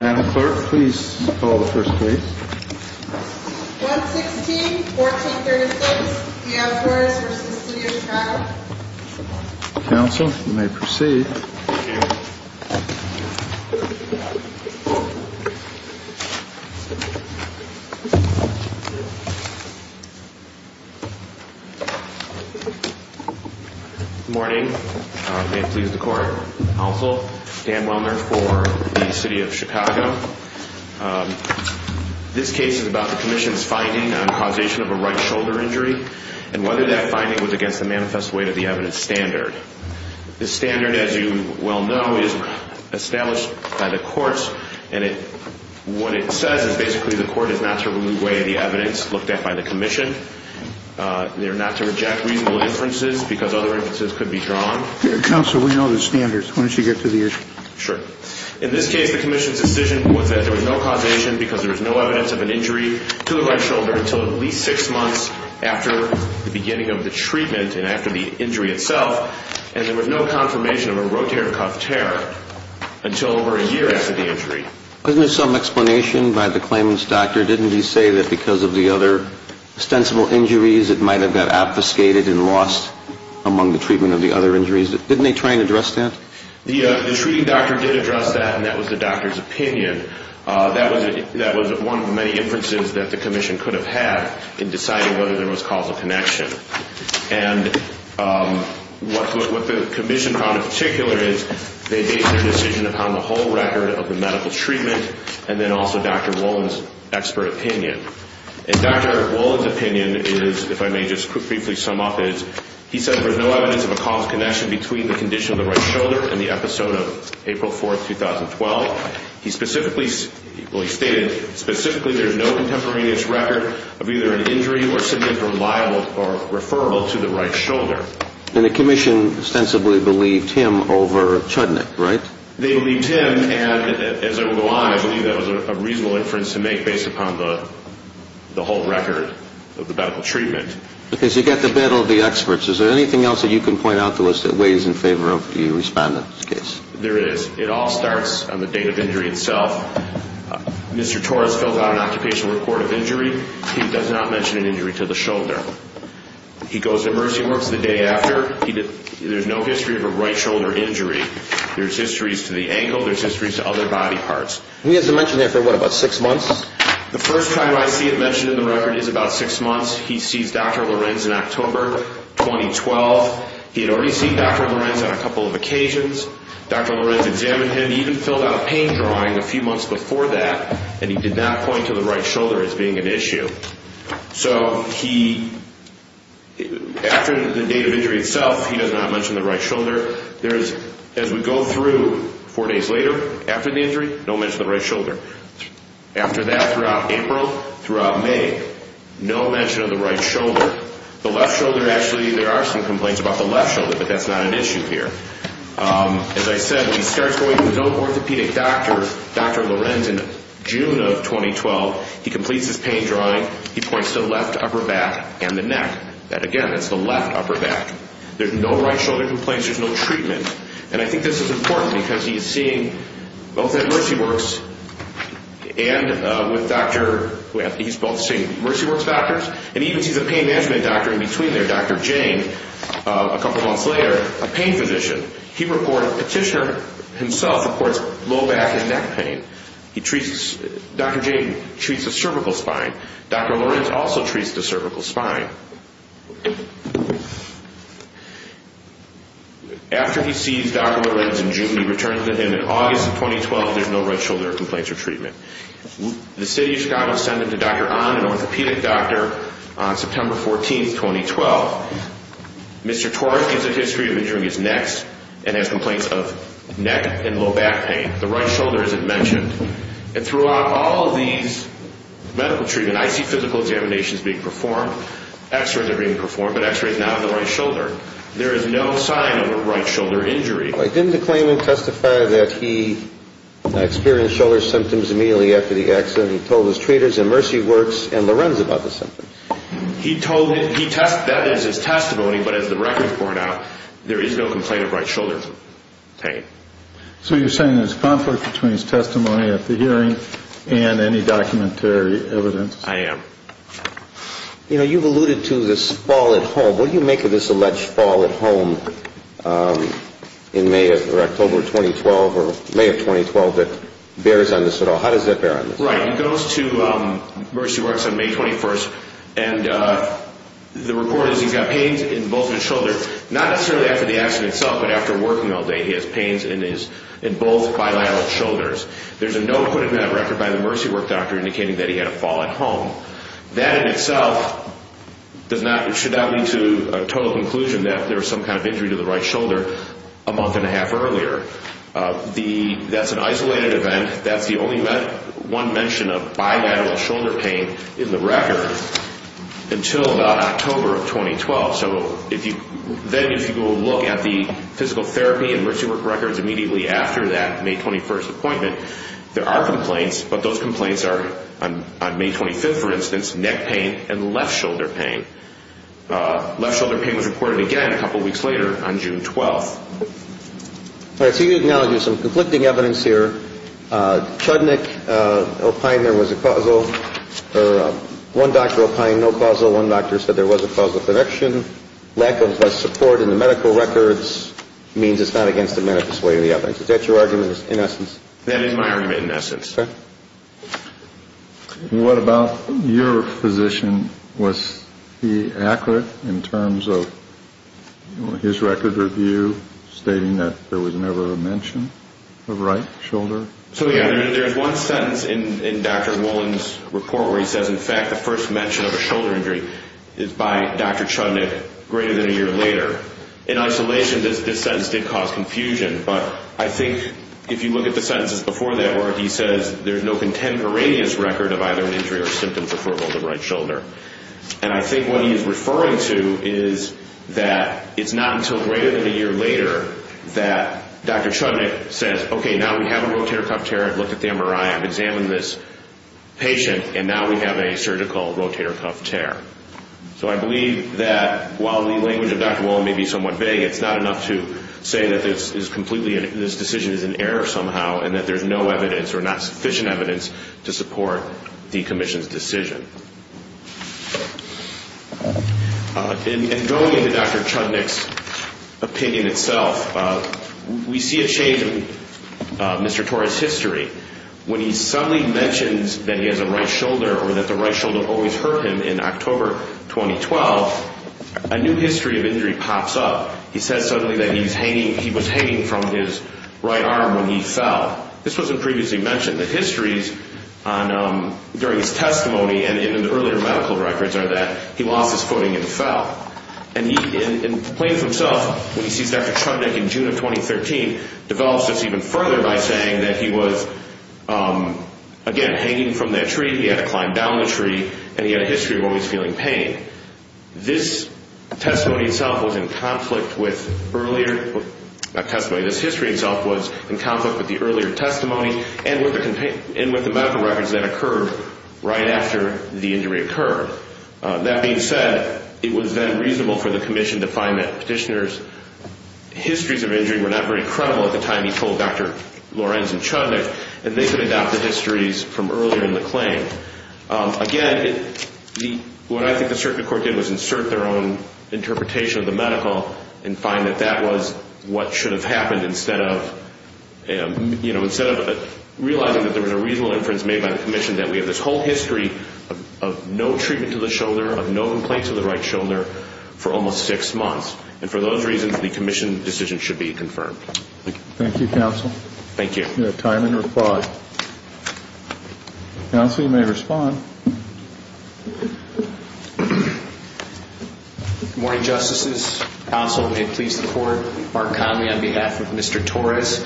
Madam Clerk, please call the first case. 116-1436. Mayors vs. City of Chicago. Counsel, you may proceed. Thank you. Good morning. May it please the Court. Counsel, Dan Wellner for the City of Chicago. This case is about the Commission's finding on causation of a right shoulder injury and whether that finding was against the manifest weight of the evidence standard. The standard, as you well know, is established by the courts. And what it says is basically the court is not to remove weight of the evidence looked at by the Commission. They are not to reject reasonable inferences because other inferences could be drawn. Counsel, we know the standards. Why don't you get to the issue? Sure. In this case, the Commission's decision was that there was no causation because there was no evidence of an injury to the right shoulder until at least six months after the beginning of the treatment and after the injury itself. And there was no confirmation of a rotator cuff tear until over a year after the injury. Wasn't there some explanation by the claimant's doctor? Didn't he say that because of the other ostensible injuries, it might have got obfuscated and lost among the treatment of the other injuries? Didn't they try and address that? The treating doctor did address that, and that was the doctor's opinion. That was one of the many inferences that the Commission could have had in deciding whether there was causal connection. And what the Commission found in particular is they based their decision upon the whole record of the medical treatment and then also Dr. Wolin's expert opinion. And Dr. Wolin's opinion is, if I may just briefly sum up, is he said there's no evidence of a causal connection between the condition of the right shoulder and the episode of April 4, 2012. Well, he stated specifically there's no contemporaneous record of either an injury or symptom reliable or referable to the right shoulder. And the Commission ostensibly believed him over Chudnik, right? They believed him, and as I will go on, I believe that was a reasonable inference to make based upon the whole record of the medical treatment. Okay, so you've got the better of the experts. Is there anything else that you can point out that weighs in favor of the respondent's case? There is. It all starts on the date of injury itself. Mr. Torres fills out an occupational report of injury. He does not mention an injury to the shoulder. He goes to Mercy Works the day after. There's no history of a right shoulder injury. There's histories to the ankle. There's histories to other body parts. He hasn't mentioned that for, what, about six months? The first time I see it mentioned in the record is about six months. He sees Dr. Lorenz in October 2012. He had already seen Dr. Lorenz on a couple of occasions. Dr. Lorenz examined him. He even filled out a pain drawing a few months before that, and he did not point to the right shoulder as being an issue. So he, after the date of injury itself, he does not mention the right shoulder. There is, as we go through four days later, after the injury, no mention of the right shoulder. After that, throughout April, throughout May, no mention of the right shoulder. The left shoulder, actually, there are some complaints about the left shoulder, but that's not an issue here. As I said, he starts going to his own orthopedic doctor, Dr. Lorenz, in June of 2012. He completes his pain drawing. He points to the left upper back and the neck. And, again, it's the left upper back. There's no right shoulder complaints. There's no treatment. And I think this is important because he's seeing both at Mercy Works and with Dr. He's both seeing Mercy Works doctors, and he even sees a pain management doctor in between there, Dr. Jane, a couple months later, a pain physician. He reported petitioner himself reports low back and neck pain. Dr. Jane treats the cervical spine. Dr. Lorenz also treats the cervical spine. After he sees Dr. Lorenz in June, he returns to him in August of 2012. There's no right shoulder complaints or treatment. The city of Chicago sent him to Dr. Ahn, an orthopedic doctor, on September 14, 2012. Mr. Torres gives a history of injuring his neck and has complaints of neck and low back pain. The right shoulder isn't mentioned. And throughout all of these medical treatments, I see physical examinations being performed, x-rays are being performed, but x-rays not on the right shoulder. There is no sign of a right shoulder injury. Didn't the claimant testify that he experienced shoulder symptoms immediately after the accident? He told his treaters in Mercy Works and Lorenz about the symptoms. He told him. He tested that as his testimony, but as the records point out, there is no complaint of right shoulder pain. So you're saying there's conflict between his testimony at the hearing and any documentary evidence? I am. You know, you've alluded to this fall at home. What do you make of this alleged fall at home in May or October 2012 or May of 2012 that bears on this at all? How does that bear on this? Right. He goes to Mercy Works on May 21st, and the report is he's got pains in both of his shoulders. Not necessarily after the accident itself, but after working all day, he has pains in both bilateral shoulders. There's a note put in that record by the Mercy Works doctor indicating that he had a fall at home. That in itself should not lead to a total conclusion that there was some kind of injury to the right shoulder a month and a half earlier. That's an isolated event. That's the only one mention of bilateral shoulder pain in the record until about October of 2012. So then if you go look at the physical therapy and Mercy Works records immediately after that May 21st appointment, there are complaints, but those complaints are on May 25th, for instance, neck pain and left shoulder pain. Left shoulder pain was reported again a couple weeks later on June 12th. All right. So you acknowledge there's some conflicting evidence here. Chudnik, Alpine, there was a causal or one doctor, Alpine, no causal. One doctor said there was a causal connection. Lack of support in the medical records means it's not against the manifest way of the evidence. Is that your argument in essence? That is my argument in essence. Okay. What about your physician? Was he accurate in terms of his record review stating that there was never a mention of right shoulder? So, yeah, there's one sentence in Dr. Wolin's report where he says, in fact, the first mention of a shoulder injury is by Dr. Chudnik greater than a year later. In isolation, this sentence did cause confusion. But I think if you look at the sentences before that work, he says there's no contemporaneous record of either an injury or symptom for frugal right shoulder. And I think what he is referring to is that it's not until greater than a year later that Dr. Chudnik says, okay, now we have a rotator cuff tear. I've looked at the MRI. I've examined this patient, and now we have a surgical rotator cuff tear. So I believe that while the language of Dr. Wolin may be somewhat vague, it's not enough to say that this decision is in error somehow and that there's no evidence or not sufficient evidence to support the commission's decision. And going into Dr. Chudnik's opinion itself, we see a change in Mr. Torres' history. When he suddenly mentions that he has a right shoulder or that the right shoulder always hurt him in October 2012, a new history of injury pops up. He says suddenly that he was hanging from his right arm when he fell. This wasn't previously mentioned. The histories during his testimony and in the earlier medical records are that he lost his footing and fell. And Plains himself, when he sees Dr. Chudnik in June of 2013, develops this even further by saying that he was, again, hanging from that tree, he had to climb down the tree, and he had a history of always feeling pain. This testimony itself was in conflict with earlier testimony. This history itself was in conflict with the earlier testimony and with the medical records that occurred right after the injury occurred. That being said, it was then reasonable for the commission to find that petitioners' histories of injury were not very credible at the time he told Dr. Lorenz and Chudnik, Again, what I think the circuit court did was insert their own interpretation of the medical and find that that was what should have happened instead of realizing that there was a reasonable inference made by the commission that we have this whole history of no treatment to the shoulder, of no complaints of the right shoulder for almost six months. And for those reasons, the commission decision should be confirmed. Thank you. Thank you, counsel. Thank you. We have time and reply. Counsel, you may respond. Good morning, Justices. Counsel, may it please the Court, Mark Conley on behalf of Mr. Torres.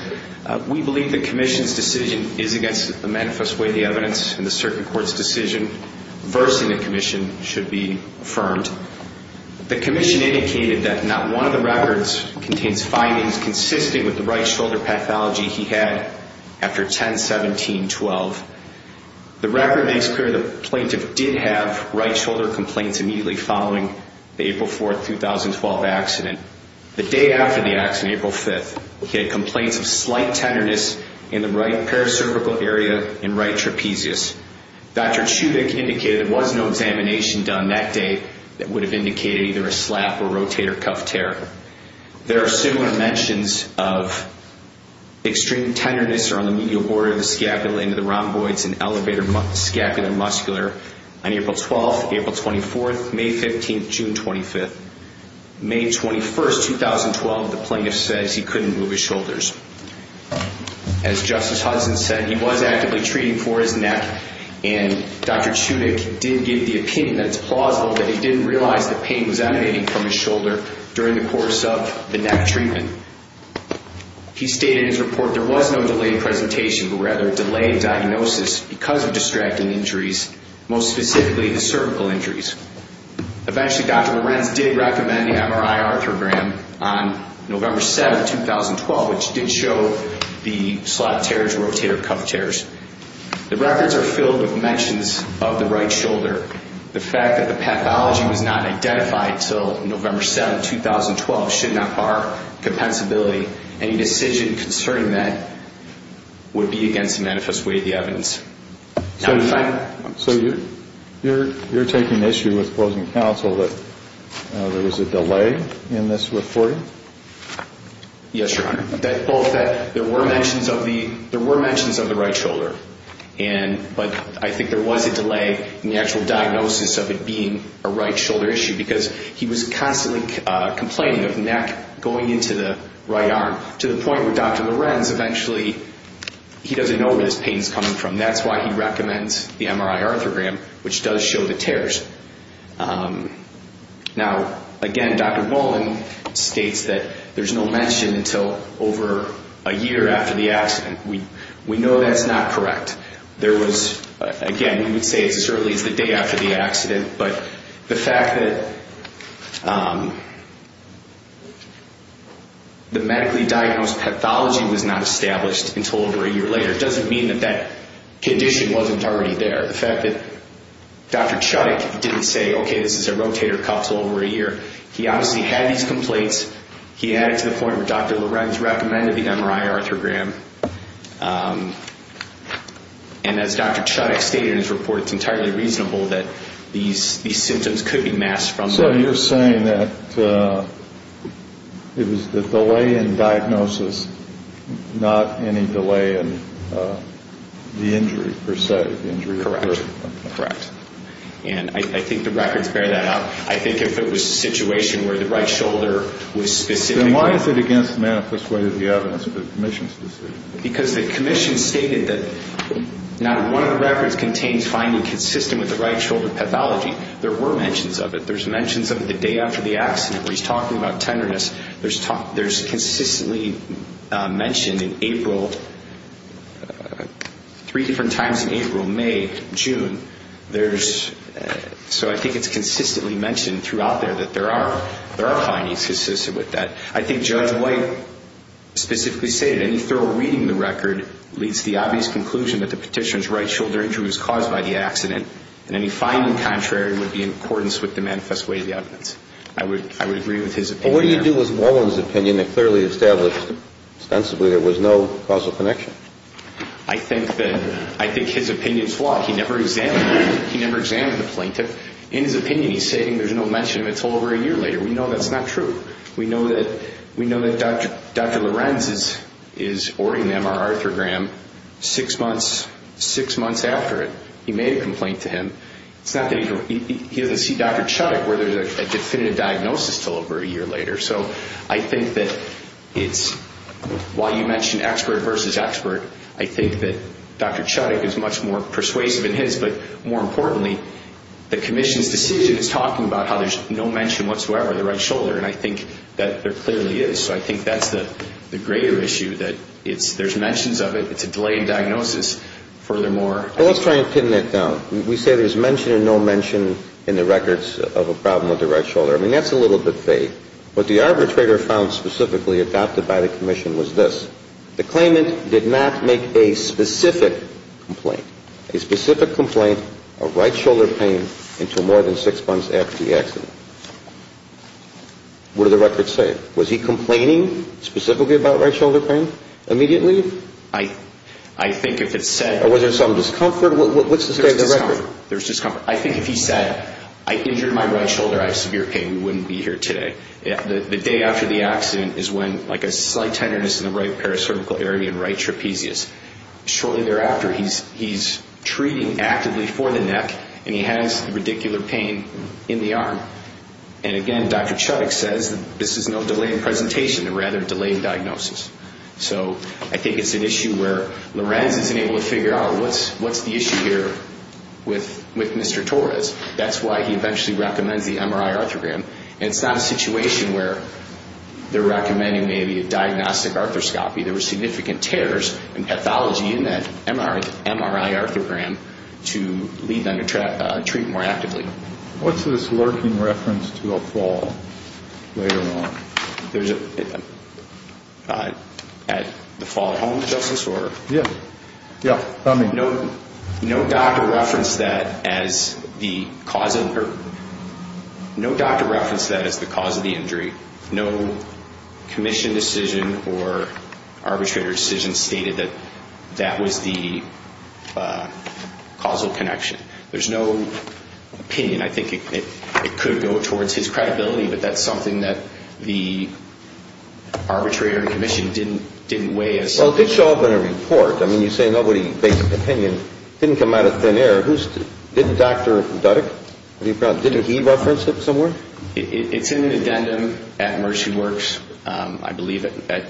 We believe the commission's decision is against the manifest way of the evidence, and the circuit court's decision versing the commission should be affirmed. The commission indicated that not one of the records contains findings consistent with the right shoulder pathology he had after 10-17-12. The record makes clear the plaintiff did have right shoulder complaints immediately following the April 4, 2012 accident. The day after the accident, April 5th, he had complaints of slight tenderness in the right paracerbical area and right trapezius. Dr. Chudnik indicated there was no examination done that day that would have indicated either a slap or rotator cuff tear. There are similar mentions of extreme tenderness around the medial border of the scapula into the rhomboids and elevated scapula muscular on April 12th, April 24th, May 15th, June 25th. May 21st, 2012, the plaintiff says he couldn't move his shoulders. As Justice Hudson said, he was actively treating for his neck, and Dr. Chudnik did give the opinion that it's plausible that he didn't realize that pain was emanating from his shoulder during the course of the neck treatment. He stated in his report there was no delayed presentation, but rather delayed diagnosis because of distracting injuries, most specifically the cervical injuries. Eventually, Dr. Lorenz did recommend the MRI arthrogram on November 7th, 2012, which did show the slap tears, rotator cuff tears. The records are filled with mentions of the right shoulder, the fact that the pathology was not identified until November 7th, 2012, should not bar compensability. Any decision concerning that would be against the manifest way of the evidence. So you're taking issue with closing counsel that there was a delay in this reporting? Yes, Your Honor. Both that there were mentions of the right shoulder, but I think there was a delay in the actual diagnosis of it being a right shoulder issue because he was constantly complaining of the neck going into the right arm to the point where Dr. Lorenz eventually, he doesn't know where this pain is coming from. That's why he recommends the MRI arthrogram, which does show the tears. Now, again, Dr. Nolan states that there's no mention until over a year after the accident. We know that's not correct. There was, again, we would say it certainly is the day after the accident, but the fact that the medically diagnosed pathology was not established until over a year later doesn't mean that that condition wasn't already there. The fact that Dr. Chudik didn't say, okay, this is a rotator cuff over a year. He obviously had these complaints. He added to the point where Dr. Lorenz recommended the MRI arthrogram. And as Dr. Chudik stated in his report, it's entirely reasonable that these symptoms could be masked from that. So you're saying that it was the delay in diagnosis, not any delay in the injury, per se? Correct. Correct. And I think the records bear that up. I think if it was a situation where the right shoulder was specific. Then why is it against the manifest way of the evidence of the commission's decision? Because the commission stated that not one of the records contains findings consistent with the right shoulder pathology. There were mentions of it. There's mentions of it the day after the accident where he's talking about tenderness. There's consistently mentioned in April, three different times in April, May, June. So I think it's consistently mentioned throughout there that there are findings consistent with that. I think Judge White specifically stated, any thorough reading of the record leads to the obvious conclusion that the petitioner's right shoulder injury was caused by the accident. And any finding contrary would be in accordance with the manifest way of the evidence. I would agree with his opinion. But what do you do with Warren's opinion that clearly established ostensibly there was no causal connection? I think his opinion's flawed. He never examined it. He never examined the plaintiff. In his opinion, he's saying there's no mention of it until over a year later. We know that's not true. We know that Dr. Lorenz is ordering them, or Arthur Graham, six months after it. He made a complaint to him. He doesn't see Dr. Chudik where there's a definitive diagnosis until over a year later. So I think that it's why you mentioned expert versus expert. I think that Dr. Chudik is much more persuasive in his. But more importantly, the commission's decision is talking about how there's no mention whatsoever of the right shoulder. And I think that there clearly is. So I think that's the greater issue, that there's mentions of it. It's a delayed diagnosis. Furthermore ---- Let's try and pin that down. We say there's mention or no mention in the records of a problem with the right shoulder. I mean, that's a little bit vague. What the arbitrator found specifically adopted by the commission was this. The claimant did not make a specific complaint. A specific complaint of right shoulder pain until more than six months after the accident. What did the record say? Was he complaining specifically about right shoulder pain immediately? I think if it said ---- Or was there some discomfort? What's the state of the record? There's discomfort. I think if he said, I injured my right shoulder. I have severe pain. I probably wouldn't be here today. The day after the accident is when like a slight tenderness in the right paracervical area and right trapezius. Shortly thereafter, he's treating actively for the neck. And he has the radicular pain in the arm. And again, Dr. Chuttick says this is no delayed presentation. Rather, delayed diagnosis. So I think it's an issue where Lorenz isn't able to figure out what's the issue here with Mr. Torres. That's why he eventually recommends the MRI arthrogram. And it's not a situation where they're recommending maybe a diagnostic arthroscopy. There were significant tears and pathology in that MRI arthrogram to lead them to treat more actively. What's this lurking reference to a fall later on? There's a fall at home, Justice? Yeah. No doctor referenced that as the cause of the injury. No commission decision or arbitrator decision stated that that was the causal connection. There's no opinion. I think it could go towards his credibility. But that's something that the arbitrator and commission didn't weigh as. Well, it did show up in a report. I mean, you say nobody based opinion. It didn't come out of thin air. Didn't Dr. Duddeck, did he reference it somewhere? It's in an addendum at Mercy Works. I believe at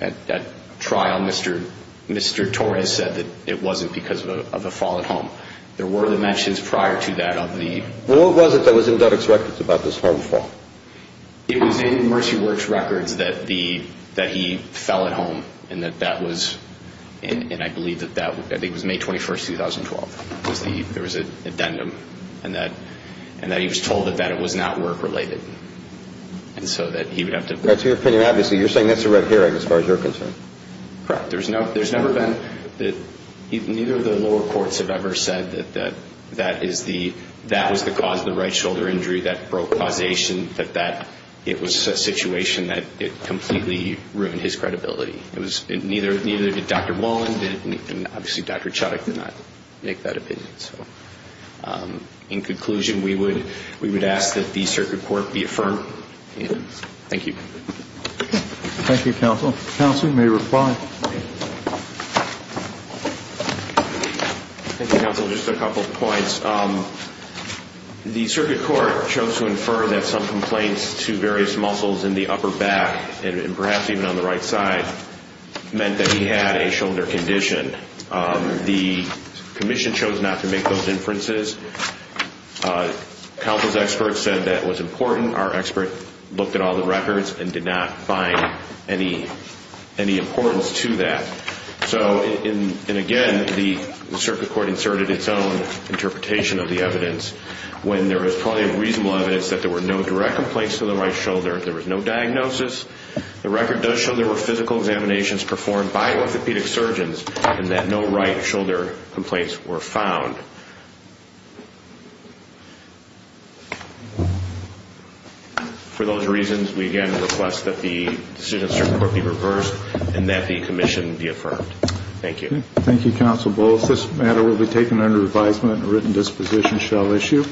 that trial, Mr. Torres said that it wasn't because of a fall at home. There were the mentions prior to that of the. Well, what was it that was in Duddeck's records about this harmful? It was in Mercy Works records that he fell at home. And I believe that was May 21, 2012. There was an addendum. And that he was told that it was not work related. And so that he would have to. That's your opinion, obviously. You're saying that's a red herring as far as you're concerned. Correct. There's never been. Neither of the lower courts have ever said that that was the cause of the right shoulder injury that broke causation, that it was a situation that completely ruined his credibility. Neither did Dr. Mullen. And obviously Dr. Chodak did not make that opinion. In conclusion, we would ask that the circuit court be affirmed. Thank you. Thank you, counsel. Counsel, you may reply. Thank you, counsel. Just a couple of points. The circuit court chose to infer that some complaints to various muscles in the upper back and perhaps even on the right side meant that he had a shoulder condition. The commission chose not to make those inferences. Counsel's experts said that was important. Our expert looked at all the records and did not find any importance to that. And again, the circuit court inserted its own interpretation of the evidence when there was probably reasonable evidence that there were no direct complaints to the right shoulder, there was no diagnosis. The record does show there were physical examinations performed by orthopedic surgeons and that no right shoulder complaints were found. For those reasons, we again request that the decision of the circuit court be reversed and that the commission be affirmed. Thank you. Thank you, counsel. This matter will be taken under advisement and a written disposition shall issue.